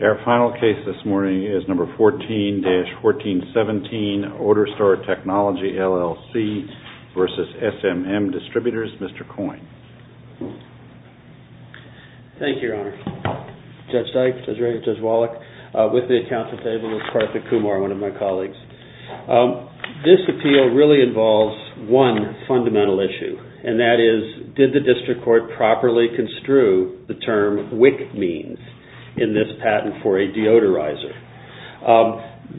Our final case this morning is number 14-1417, Ordorstar Technology LLC v. SMM Distributors, Mr. Coyne. Thank you, Your Honor. Judge Dyke, Judge Wallach, with me at the counsel table is Partha Kumar, one of my colleagues. This appeal really involves one fundamental issue, and that is did the district court properly construe the term WIC means in this patent for a deodorizer?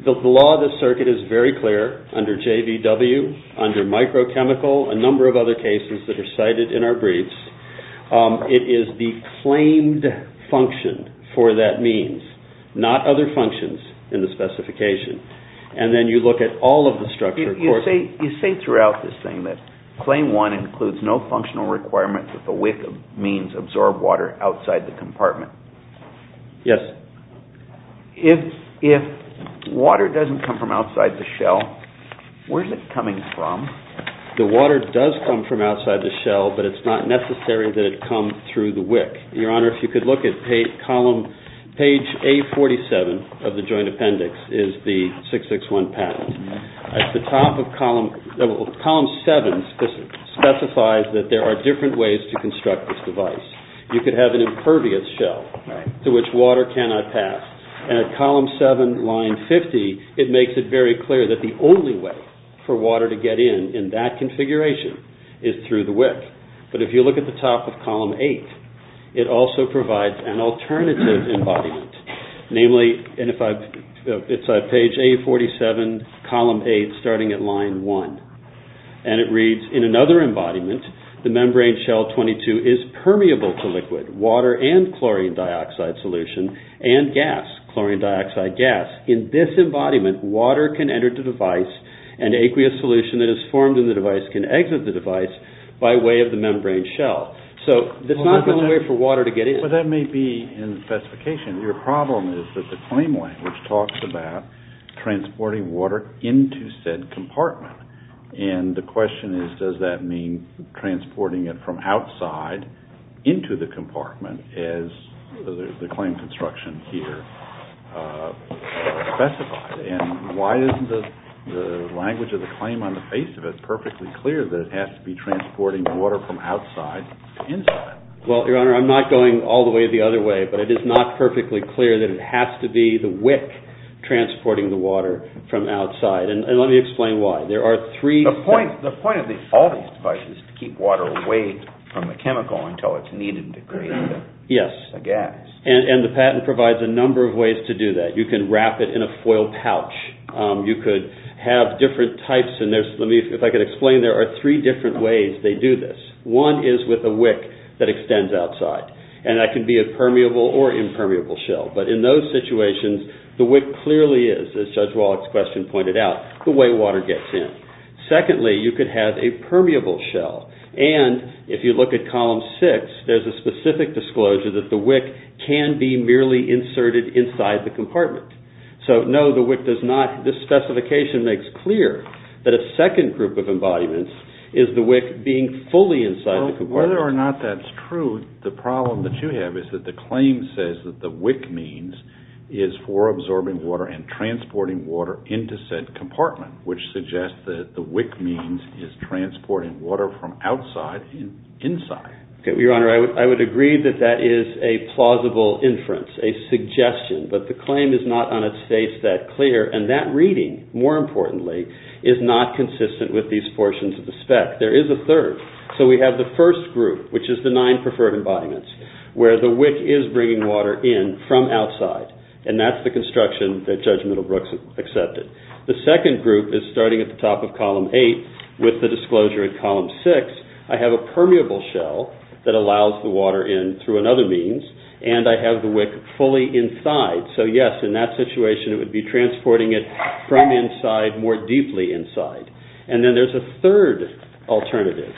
The law of the circuit is very clear under JVW, under microchemical, a number of other cases that are cited in our briefs. It is the claimed function for that means, not other functions in the specification. And then you look at all of the structure. You say throughout this thing that claim one includes no functional requirement that the WIC means absorb water outside the compartment. Yes. If water doesn't come from outside the shell, where's it coming from? The water does come from outside the shell, but it's not necessary that it come through the WIC. Your Honor, if you could look at page A-47 of the joint appendix, is the 661 patent. At the top of column 7 specifies that there are different ways to construct this device. You could have an impervious shell to which water cannot pass. And at column 7, line 50, it makes it very clear that the only way for water to get in in that configuration is through the WIC. But if you look at the top of column 8, it also provides an alternative embodiment. Namely, it's page A-47, column 8, starting at line 1. And it reads, in another embodiment, the membrane shell 22 is permeable to liquid, water and chlorine dioxide solution, and gas, chlorine dioxide gas. In this embodiment, water can enter the device and aqueous solution that is formed in the device can exit the device by way of the membrane shell. So, that's not the only way for water to get in. But that may be in the specification. Your problem is that the claim language talks about transporting water into said compartment. And the question is, does that mean transporting it from outside into the compartment as the claim construction here specified? And why isn't the language of the claim on the face of it perfectly clear that it has to be transporting water from outside to inside? Well, Your Honor, I'm not going all the way the other way. But it is not perfectly clear that it has to be the WIC transporting the water from outside. And let me explain why. There are three... The point of all these devices is to keep water away from the chemical until it's needed to create a gas. Yes. And the patent provides a number of ways to do that. You can wrap it in a foil pouch. You could have different types. And if I could explain, there are three different ways they do this. One is with a WIC that extends outside. And that can be a permeable or impermeable shell. But in those situations, the WIC clearly is, as Judge Wallach's question pointed out, the way water gets in. Secondly, you could have a permeable shell. And if you look at column six, there's a specific disclosure that the WIC can be merely inserted inside the compartment. So, no, the WIC does not... This specification makes clear that a second group of embodiments is the WIC being fully inside the compartment. Well, whether or not that's true, the problem that you have is that the claim says that the WIC means is for absorbing water and transporting water into said compartment, which suggests that the WIC means is transporting water from outside and inside. Your Honor, I would agree that that is a plausible inference, a suggestion, but the claim is not on its face that clear. And that reading, more importantly, is not consistent with these portions of the spec. There is a third. So we have the first group, which is the nine preferred embodiments, where the WIC is bringing water in from outside. And that's the construction that Judge Middlebrook accepted. The second group is starting at the top of column eight with the disclosure in column six. I have a permeable shell that allows the fully inside. So, yes, in that situation, it would be transporting it from inside more deeply inside. And then there's a third alternative.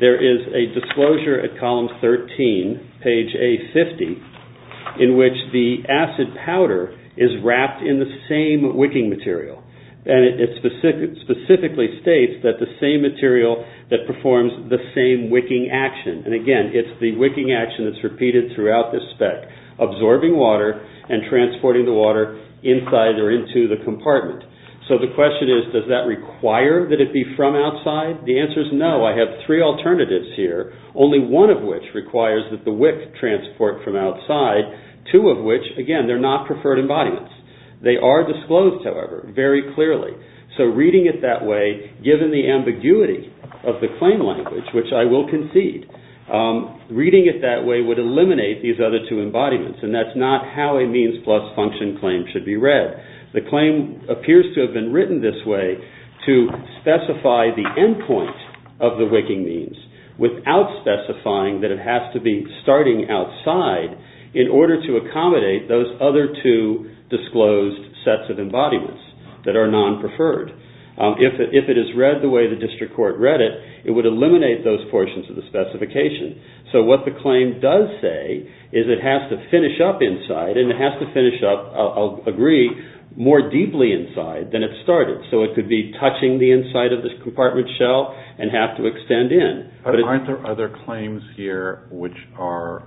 There is a disclosure at column 13, page A50, in which the acid powder is wrapped in the same wicking material. And it specifically states that the same material that performs the same wicking action. And again, it's the wicking action that's repeated throughout this spec, absorbing water and transporting the water inside or into the compartment. So the question is, does that require that it be from outside? The answer is no. I have three alternatives here, only one of which requires that the WIC transport from outside, two of which, again, they're not preferred embodiments. They are disclosed, however, very clearly. So reading it that way, given the ambiguity of the claim language, which I will concede, reading it that way would eliminate these other two embodiments. And that's not how a means plus function claim should be read. The claim appears to have been written this way to specify the end point of the wicking means without specifying that it has to be starting outside in order to accommodate those other two disclosed sets of embodiments that are non-preferred. If it is read the way the district court read it, it would claim does say is it has to finish up inside and it has to finish up, I'll agree, more deeply inside than it started. So it could be touching the inside of this compartment shell and have to extend in. But aren't there other claims here which are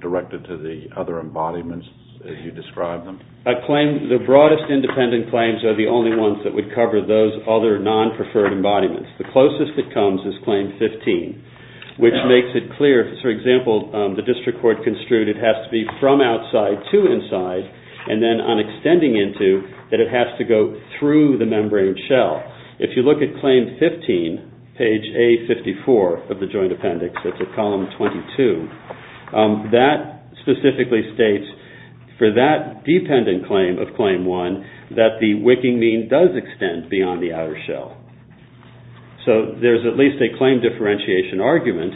directed to the other embodiments as you describe them? I claim the broadest independent claims are the only ones that would cover those other non-preferred embodiments. The closest it comes is claim 15, which makes it clear, for example, the district court construed it has to be from outside to inside and then on extending into, that it has to go through the membrane shell. If you look at claim 15, page A54 of the Joint Appendix, that's at column 22, that specifically states for that dependent claim of claim 1, that the wicking mean does extend beyond the outer shell. So there's at least a claim differentiation argument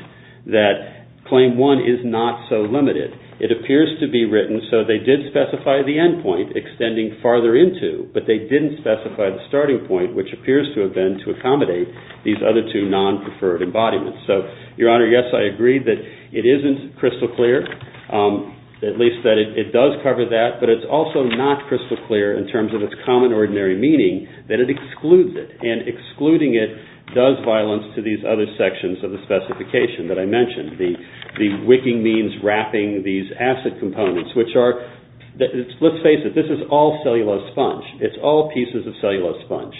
that claim 1 is not so limited. It appears to be written so they did specify the endpoint extending farther into, but they didn't specify the starting point, which appears to have been to accommodate these other two non-preferred embodiments. So, Your Honor, yes, I agree that it isn't crystal clear, at least that it does cover that, but it's also not crystal clear in terms of its common ordinary meaning that it excludes it, and excluding it does violence to these other sections of the specification that I mentioned, the wicking means wrapping these acid components, which are, let's face it, this is all cellulose sponge. It's all pieces of cellulose sponge.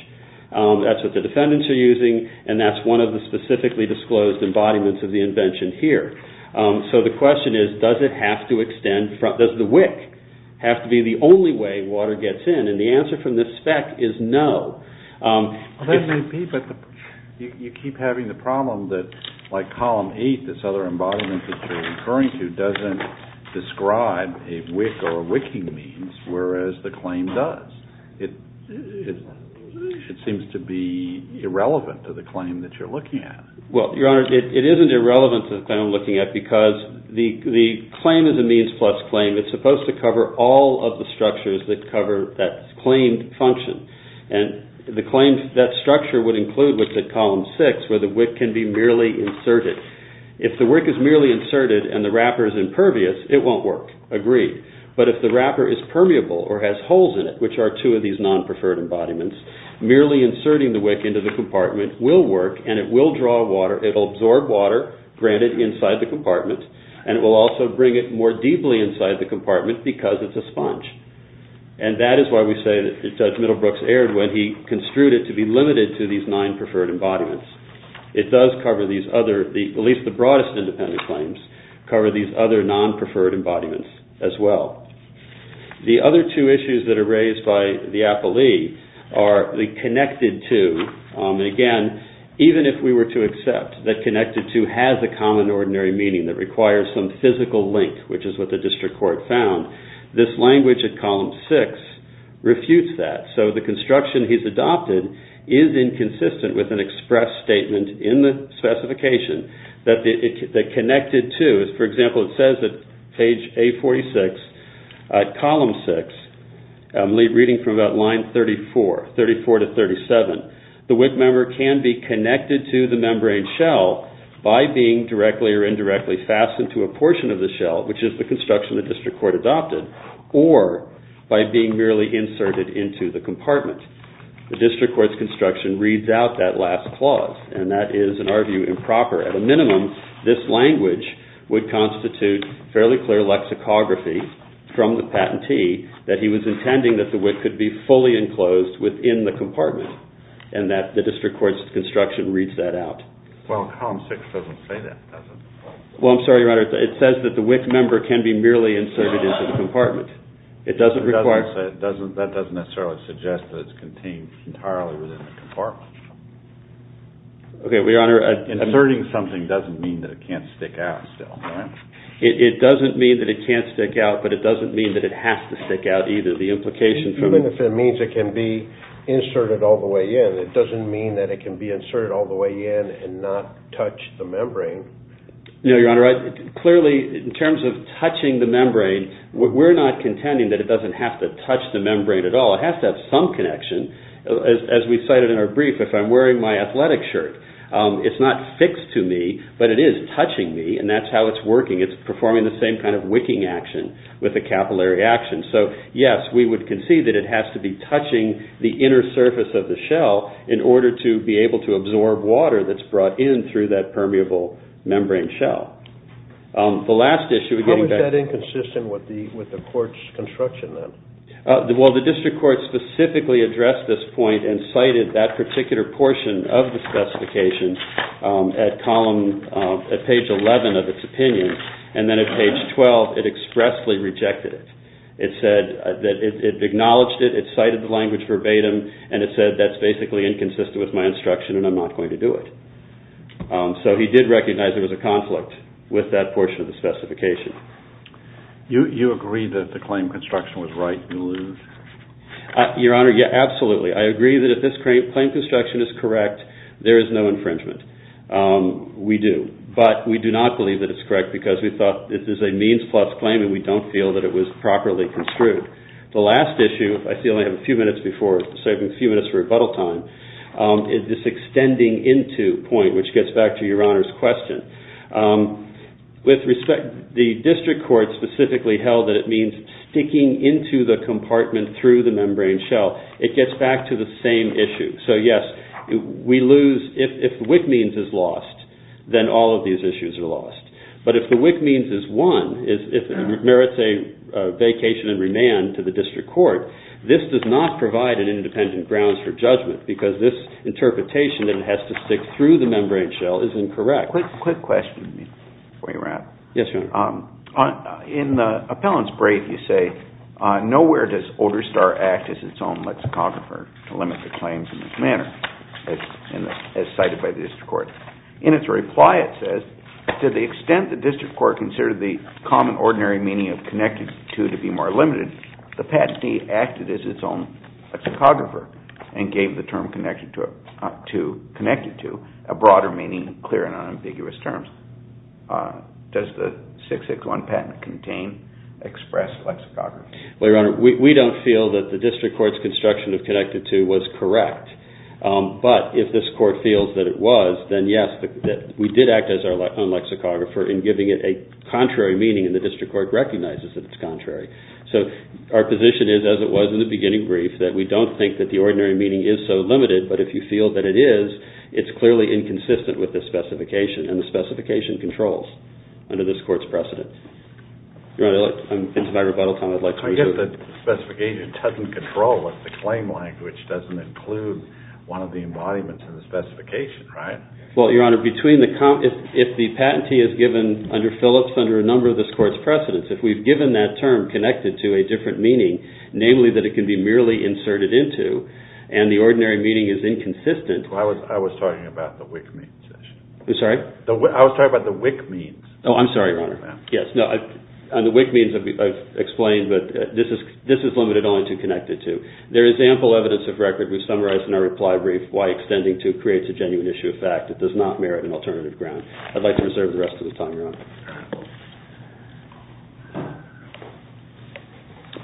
That's what the defendants are using, and that's one of the specifically disclosed embodiments of the invention here. So the question is, does it have to extend, does the wick have to be the only way water gets in? And the answer from this spec is no. Well, that may be, but you keep having the problem that, like column 8, this other embodiment that you're referring to doesn't describe a wick or wicking means, whereas the claim does. It seems to be irrelevant to the claim that you're looking at. Well, Your Honor, it isn't irrelevant to the claim I'm looking at because the claim is a means plus claim. It's supposed to cover all of the structures that cover that claimed function, and the claim that structure would include, which is column 6, where the wick can be merely inserted. If the wick is merely inserted and the wrapper is impervious, it won't work. Agreed. But if the wrapper is permeable or has holes in it, which are two of these non-preferred embodiments, merely inserting the wick into the compartment will work and it will draw water, it'll absorb water, granted, inside the compartment, and it will also bring it more deeply inside the compartment because it's a sponge. And that is why we say that Judge Middlebrooks erred when he construed it to be limited to these nine preferred embodiments. It does cover these other, at least the broadest independent claims, cover these other non-preferred embodiments as well. The other two issues that are raised by the appellee are the connected to, and again, even if we were to accept that connected to has a common ordinary meaning that requires some physical link, which is what the district court found, this language at column 6 refutes that. So the construction he's adopted is inconsistent with an express statement in the specification that connected to, for example, it says at page A46, column 6, reading from about line 34, 34 to 37, the wick member can be connected to the membrane shell by being directly or indirectly fastened to a portion of the shell, which is the construction the district court adopted, or by being merely inserted into the compartment. The district court's construction reads out that last clause, and that is, in our view, improper, at a minimum, this language would constitute fairly clear lexicography from the patentee that he was intending that the wick could be fully enclosed within the compartment, and that the district court's construction reads that out. Well, column 6 doesn't say that, does it? Well, I'm sorry, Your Honor, it says that the wick member can be merely inserted into the compartment. It doesn't require... That doesn't necessarily suggest that it's contained entirely within the compartment. Okay, Your Honor... Inserting something doesn't mean that it can't stick out still, right? It doesn't mean that it can't stick out, but it doesn't mean that it has to stick out either. The implication... Even if it means it can be inserted all the way in, it doesn't mean that it can be inserted all the way in and not touch the membrane. No, Your Honor, clearly in terms of touching the membrane, we're not contending that it doesn't have to touch the membrane at all. It has to have some connection. As we cited in our brief, if I'm wearing my athletic shirt, it's not fixed to me, but it is touching me, and that's how it's working. It's performing the same kind of wicking action with a capillary action. So, yes, we would concede that it has to be touching the inner surface of the shell in order to be able to absorb water that's brought in through that permeable membrane shell. The last issue... How is that inconsistent with the court's construction, then? Well, the district court specifically addressed this point and cited that particular portion of the specification at page 11 of its opinion, and then at page 12 it expressly rejected it. It acknowledged it, it cited the language verbatim, and it said that's basically inconsistent with my instruction and I'm not going to do it. So he did recognize there was a conflict with that portion of the specification. You agree that the claim construction was right and lose? Your Honor, yeah, absolutely. I agree that if this claim construction is correct, there is no infringement. We do. But we do not believe that it's correct because we thought this is a means plus claim and we don't feel that it was properly construed. The last issue, I feel I have a few minutes before, saving a few minutes for rebuttal time, is this extending into point, which gets back to Your Honor's question. With respect, the district court specifically held that it means sticking into the compartment through the membrane shell. It gets back to the same issue. So yes, we lose. If WIC means is lost, then all of these issues are lost. But if the WIC means is won, if it merits a vacation and remand to the district court, this does not provide an independent grounds for judgment because this interpretation that it has to stick through the membrane shell is incorrect. Quick question before you wrap. Yes, Your Honor. In the appellant's brief, you say, nowhere does Olderstar act as its own lexicographer to limit the claims in this manner, as cited by the district court. In its reply, it says, to the extent the district court considered the common ordinary meaning of connected to to be more limited, the patentee acted as its own lexicographer and gave the Does the 661 patent contain express lexicography? Well, Your Honor, we don't feel that the district court's construction of connected to was correct. But if this court feels that it was, then yes, we did act as our own lexicographer in giving it a contrary meaning, and the district court recognizes that it's contrary. So our position is, as it was in the beginning brief, that we don't think that the ordinary meaning is so limited. But if you feel that it is, it's clearly inconsistent with this specification, and the specification controls under this court's precedent. Your Honor, I'm into my rebuttal time. I'd like to resume. I guess the specification doesn't control what the claim language doesn't include one of the embodiments of the specification, right? Well, Your Honor, if the patentee is given under Phillips under a number of this court's precedents, if we've given that term connected to a different meaning, namely that it can be merely inserted into, and the ordinary meaning is inconsistent. I was talking about the WIC means. I'm sorry? I was talking about the WIC means. Oh, I'm sorry, Your Honor. Yes. On the WIC means, I've explained, but this is limited only to connected to. There is ample evidence of record we've summarized in our reply brief, why extending to creates a genuine issue of fact that does not merit an alternative ground. I'd like to reserve the rest of the time, Your Honor. All right.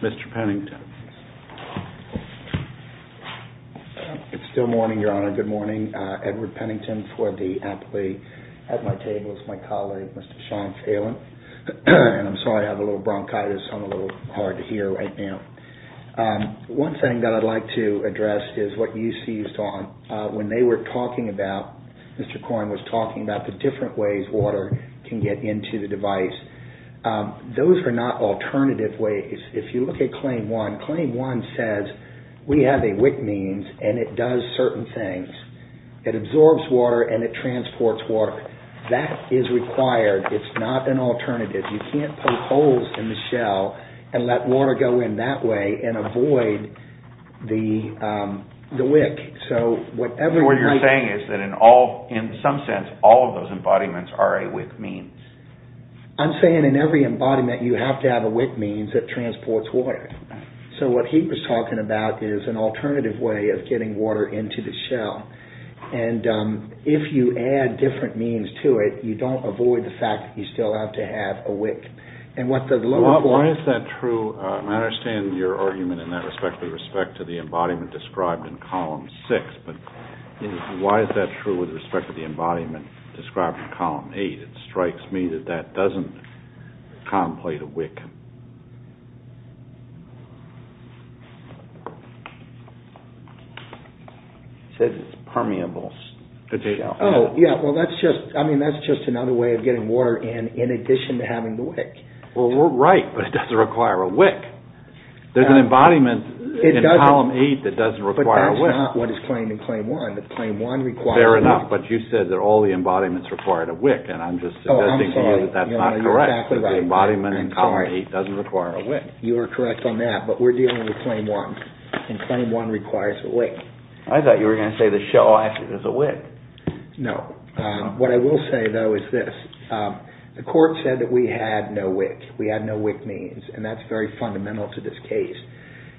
Mr. Pennington. It's still morning, Your Honor. Good morning. Edward Pennington for the athlete at my table is my colleague, Mr. Sean Phelan. And I'm sorry, I have a little bronchitis. I'm a little hard to hear right now. One thing that I'd like to address is what you seized on. When they were talking about, Mr. Coyne was talking about the different ways water can get into the device. Those are not alternative ways. If you look at Claim 1, Claim 1 says we have a WIC means and it does certain things. It absorbs water and it transports water. That is required. It's not an alternative. You can't put holes in the shell and let water go in that way and avoid the WIC. What you're saying is that in some sense all of those embodiments are a WIC means. I'm saying in every embodiment you have to have a WIC means that transports water. So what he was talking about is an alternative way of getting water into the shell. And if you add different means to it, you don't avoid the fact that you still have to have a WIC. Why is that true? I understand your argument in that respect with respect to the embodiment described in Column 6. But why is that true with respect to the embodiment described in Column 8? It strikes me that that doesn't contemplate a WIC. He said it's permeable. Oh, yeah. Well, that's just another way of getting water in, in addition to having the WIC. Well, we're right. But it doesn't require a WIC. There's an embodiment in Column 8 that doesn't require a WIC. But that's not what is claimed in Claim 1. The Claim 1 requires a WIC. Fair enough. But you said that all the embodiments required a WIC. And I'm just suggesting to you that that's not correct. You're exactly right. The embodiment in Column 8 doesn't require a WIC. You are correct on that. But we're dealing with Claim 1. And Claim 1 requires a WIC. I thought you were going to say the shell actually does a WIC. No. What I will say, though, is this. The court said that we had no WIC. We had no WIC means. And that's very fundamental to this case.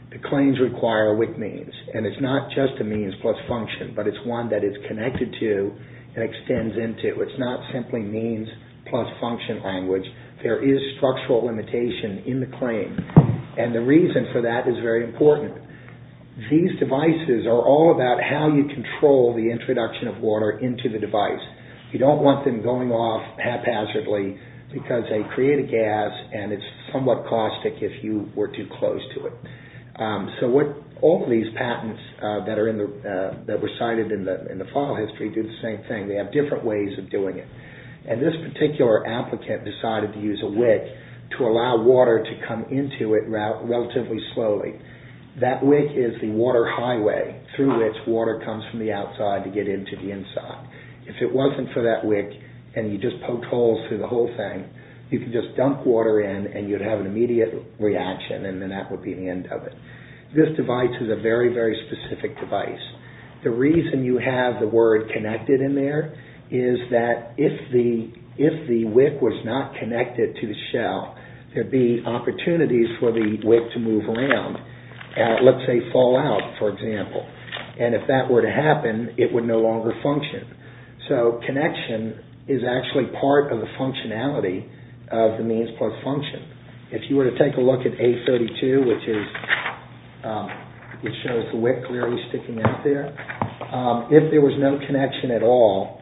The claims require a WIC means. And it's not just a means plus function. But it's one that is connected to and extends into. It's not simply means plus function language. There is structural limitation in the claim. And the reason for that is very important. These devices are all about how you control the introduction of water into the device. You don't want them going off haphazardly because they create a gas. And it's somewhat caustic if you were too close to it. So all these patents that were cited in the file history do the same thing. They have different ways of doing it. And this particular applicant decided to use a WIC to allow water to come into it relatively slowly. That WIC is the water highway through which water comes from the outside to get into the inside. If it wasn't for that WIC and you just poked holes through the whole thing, you could just dump water in and you'd have an immediate reaction and then that would be the end of it. This device is a very, very specific device. The reason you have the word connected in there is that if the WIC was not connected to the shell, there'd be opportunities for the WIC to move around and let's say fall out, for example. And if that were to happen, it would no longer function. So connection is actually part of the functionality of the means plus function. If you were to take a look at A32, which shows the WIC clearly sticking out there, if there was no connection at all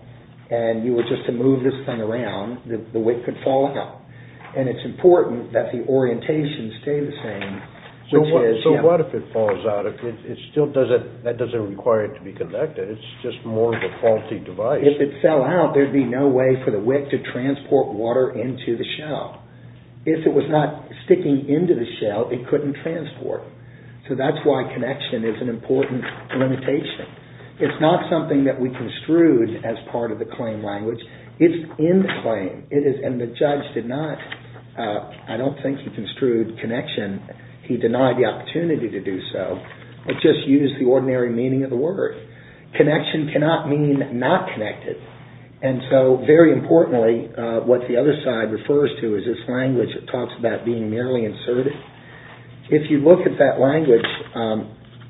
and you were just to move this thing around, the WIC could fall out. And it's important that the orientation stay the same. So what if it falls out? That doesn't require it to be connected. It's just more of a faulty device. If it fell out, there'd be no way for the WIC to transport water into the shell. If it was not sticking into the shell, it couldn't transport. So that's why connection is an important limitation. It's not something that we construed as part of the claim language. It's in the claim. And the judge did not, I don't think he construed connection. He denied the opportunity to do so. It just used the ordinary meaning of the word. Connection cannot mean not connected. And so very importantly, what the other side refers to is this language that talks about being merely inserted. If you look at that language,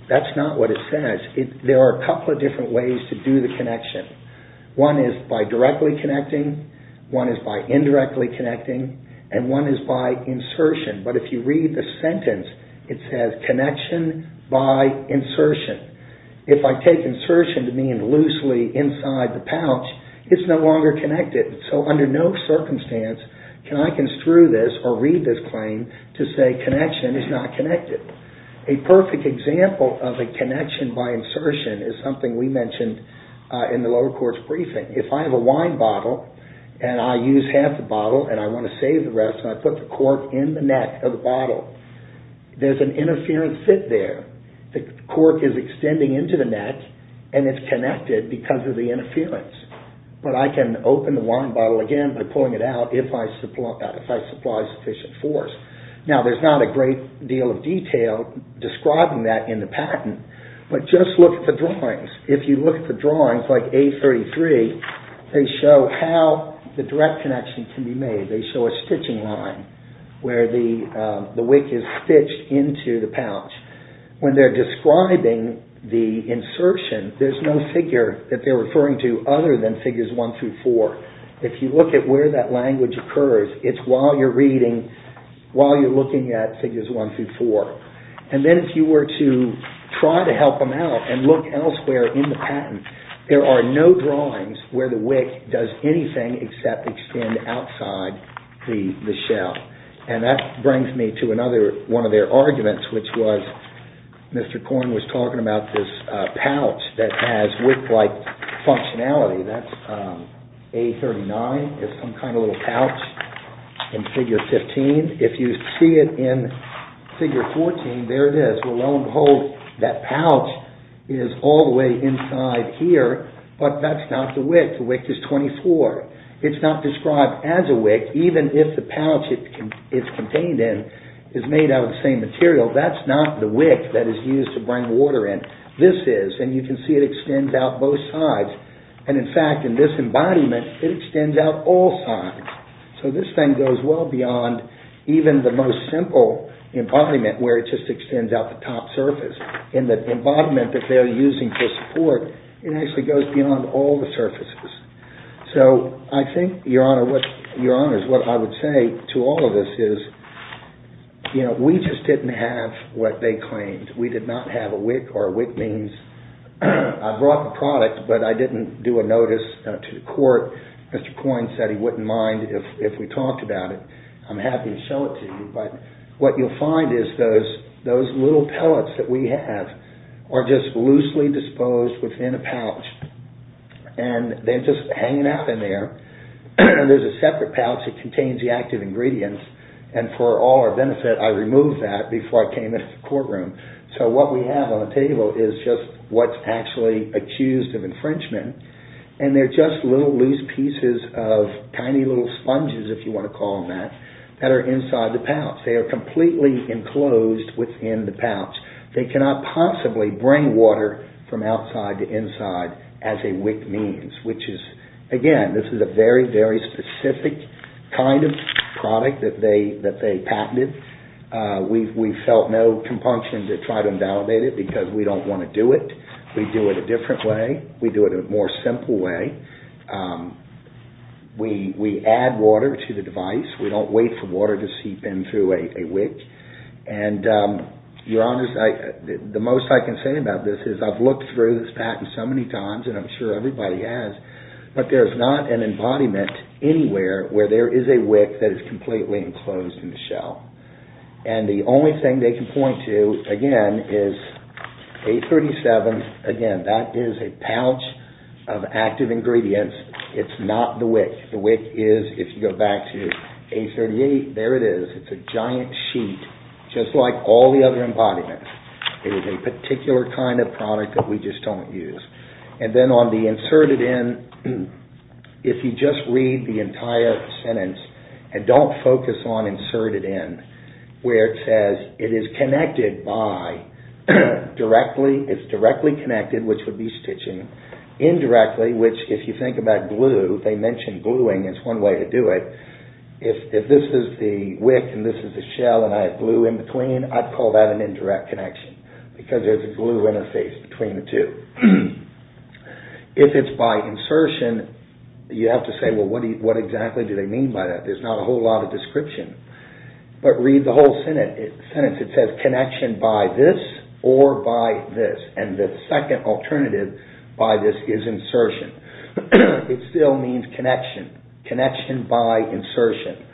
that's not what it says. There are a couple of different ways to do the connection. One is by directly connecting. One is by indirectly connecting. And one is by insertion. But if you read the sentence, it says connection by insertion. If I take insertion to mean loosely inside the pouch, it's no longer connected. So under no circumstance can I construe this or read this claim to say connection is not connected. A perfect example of a connection by insertion is something we mentioned in the lower courts briefing. If I have a wine bottle and I use half the bottle and I want to save the rest and I put the cork in the neck of the bottle, there's an interference fit there. The cork is extending into the neck and it's connected because of the interference. But I can open the wine bottle again by pulling it out if I supply sufficient force. Now, there's not a great deal of detail describing that in the patent, but just look at the drawings. If you look at the drawings like A33, they show how the direct connection can be made. They show a stitching line where the wick is stitched into the pouch. When they're describing the insertion, there's no figure that they're referring to other than figures one through four. If you look at where that language occurs, it's while you're reading, while you're looking at figures one through four. And then if you were to try to help them out and look elsewhere in the patent, there are no drawings where the wick does anything except extend outside the shell. And that brings me to another one of their arguments, which was Mr. Corn was talking about this pouch that has wick-like functionality. That's A39 is some kind of little pouch in figure 15. If you see it in figure 14, there it is. Well, lo and behold, that pouch is all the way inside here, but that's not the wick. The wick is 24. It's not described as a wick, even if the pouch it's contained in is made out of the same material. That's not the wick that is used to bring water in. This is, and you can see it extends out both sides. And in fact, in this embodiment, it extends out all sides. So this thing goes well beyond even the most simple embodiment where it just extends out the top surface. In the embodiment that they're using for support, it actually goes beyond all the surfaces. So I think, Your Honor, what I would say to all of this is, you know, we just didn't have what they claimed. We did not have a wick, or a wick means I brought the product, but I didn't do a notice to the court. Mr. Coyne said he wouldn't mind if we talked about it. I'm happy to show it to you. But what you'll find is those little pellets that we have are just loosely disposed within a pouch, and they're just hanging out in there. There's a separate pouch that contains the active ingredients, and for all our benefit, I removed that before I came into the courtroom. So what we have on the table is just what's actually accused of infringement, and they're just little loose pieces of tiny little sponges, if you want to call them that, that are inside the pouch. They are completely enclosed within the pouch. They cannot possibly bring water from outside to inside as a wick means, which is, again, this is a very, very specific kind of product that they patented. We felt no compunction to try to invalidate it because we don't want to do it. We do it a different way. We do it a more simple way. We add water to the device. We don't wait for water to seep in through a wick. And, Your Honor, the most I can say about this is I've looked through this patent so many times, and I'm sure everybody has, but there's not an embodiment anywhere where there is a wick that is completely enclosed in the shell. And the only thing they can point to, again, is A-37. Again, that is a pouch of active ingredients. It's not the wick. The wick is, if you go back to A-38, there it is. It's a giant sheet just like all the other embodiments. It is a particular kind of product that we just don't use. And then on the inserted in, if you just read the entire sentence and don't focus on inserted in, where it says it is connected by directly, it's directly connected, which would be stitching, indirectly, which if you think about glue, they mention gluing is one way to do it. If this is the wick and this is the shell and I have glue in between, I'd call that an indirect connection because there's a glue interface between the two. If it's by insertion, you have to say, well, what exactly do they mean by that? There's not a whole lot of description. But read the whole sentence. It says connection by this or by this, and the second alternative by this is insertion. It still means connection, connection by insertion.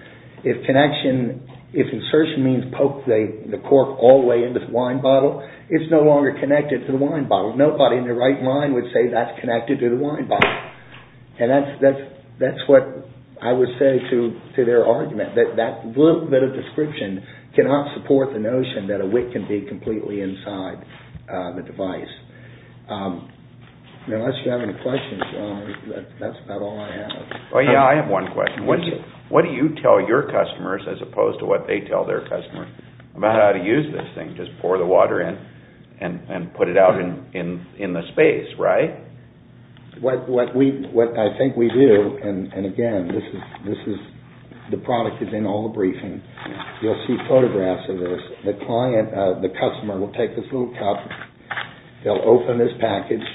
If connection, if insertion means poke the cork all the way into the wine bottle, it's no longer connected to the wine bottle. Nobody in their right mind would say that's connected to the wine bottle. And that's what I would say to their argument, that little bit of description cannot support the notion that a wick can be completely inside the device. Unless you have any questions, that's about all I have. Oh, yeah, I have one question. What do you tell your customers as opposed to what they tell their customers about how to use this thing? Just pour the water in and put it out in the space, right? What I think we do, and again, this is the product that's in all the briefing. You'll see photographs of this. The customer will take this little cup. They'll open this package.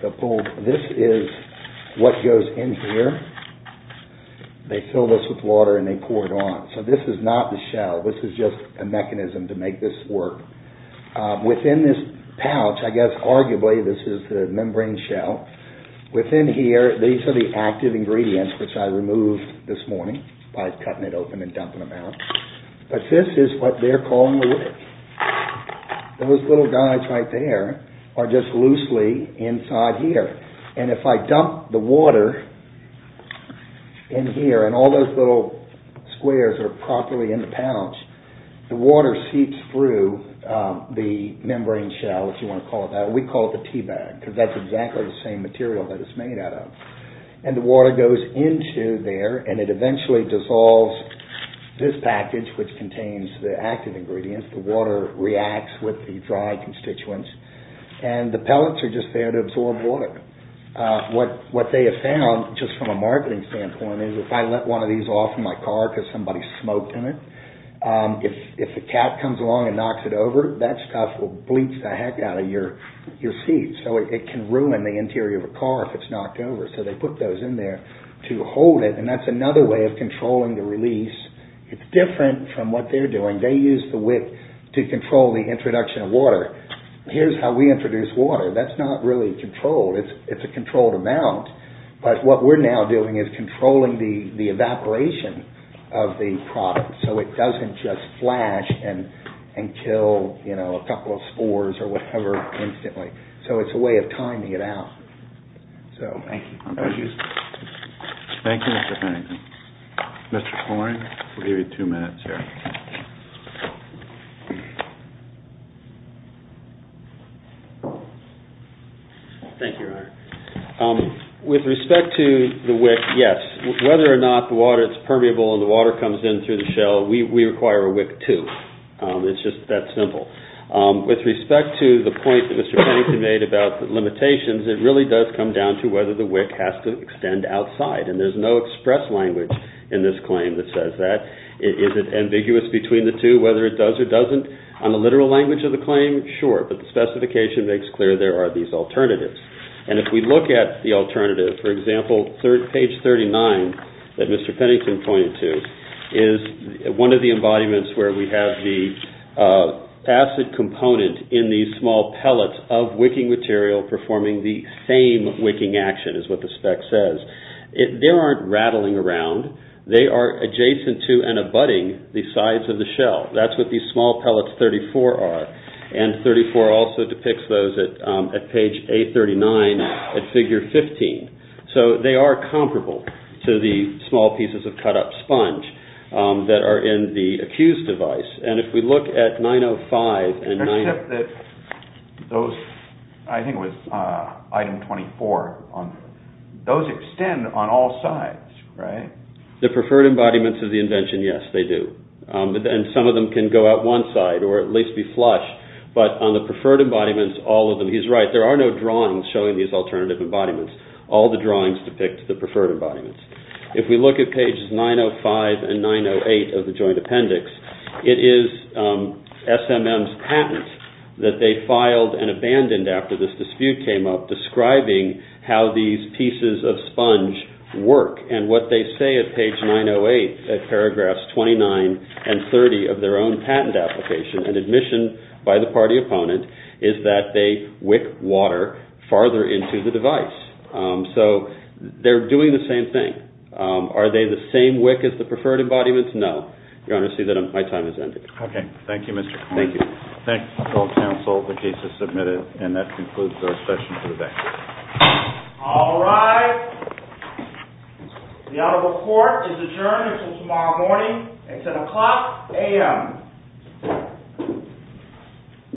They'll pull. This is what goes in here. They fill this with water and they pour it on. So this is not the shell. This is just a mechanism to make this work. Within this pouch, I guess arguably this is the membrane shell. Within here, these are the active ingredients, which I removed this morning by cutting it open and dumping them out. But this is what they're calling the wick. Those little guys right there are just loosely inside here. And if I dump the water in here and all those little squares are properly in the pouch, the water seeps through the membrane shell, if you want to call it that. We call it the teabag because that's exactly the same material that it's made out of. And the water goes into there and it eventually dissolves this package, which contains the active ingredients. The water reacts with the dry constituents. And the pellets are just there to absorb water. What they have found, just from a marketing standpoint, is if I let one of these off in my car because somebody smoked in it, if a cat comes along and knocks it over, that stuff will bleach the heck out of your seat. So it can ruin the interior of a car if it's knocked over. So they put those in there to hold it. And that's another way of controlling the release. It's different from what they're doing. They use the wick to control the introduction of water. Here's how we introduce water. That's not really controlled. It's a controlled amount. But what we're now doing is controlling the evaporation of the product so it doesn't just flash and kill a couple of spores or whatever instantly. So it's a way of timing it out. So thank you. Thank you, Mr. Farrington. Mr. Farrington, we'll give you two minutes here. Thank you, Ryan. With respect to the wick, yes. Whether or not the water is permeable and the water comes in through the shell, we require a wick, too. It's just that simple. With respect to the point that Mr. Farrington made about the limitations, it really does come down to whether the wick has to extend outside. And there's no express language in this claim that says that. Is it ambiguous between the two, whether it does or doesn't? On the literal language of the claim, sure. But the specification makes clear there are these alternatives. And if we look at the alternative, for example, page 39 that Mr. Farrington pointed to is one of the embodiments where we have the acid component in these small pellets of wicking material performing the same wicking action is what the spec says. They aren't rattling around. They are adjacent to and abutting the sides of the shell. That's what these small pellets 34 are. And 34 also depicts those at page 839 at figure 15. So they are comparable to the small pieces of cut-up sponge that are in the accused device. And if we look at 905 and those, I think it was item 24 on those extend on all sides. Right. The preferred embodiments of the invention. Yes, they do. And some of them can go out one side or at least be flush. But on the preferred embodiments, all of them. He's right. There are no drawings showing these alternative embodiments. All the drawings depict the preferred embodiments. If we look at pages 905 and 908 of the joint appendix, it is S.M.M.'s patent that they filed and abandoned after this dispute came up, describing how these pieces of sponge work. And what they say at page 908 at paragraphs 29 and 30 of their own patent application and admission by the party opponent is that they wick water farther into the device. So they're doing the same thing. Are they the same wick as the preferred embodiments? No. Your Honor, I see that my time has ended. Okay. Thank you, Mr. Connolly. Thank you. Thank you, counsel. The case is submitted. And that concludes our session for the day. All rise. The honorable court is adjourned until tomorrow morning at 10 o'clock a.m.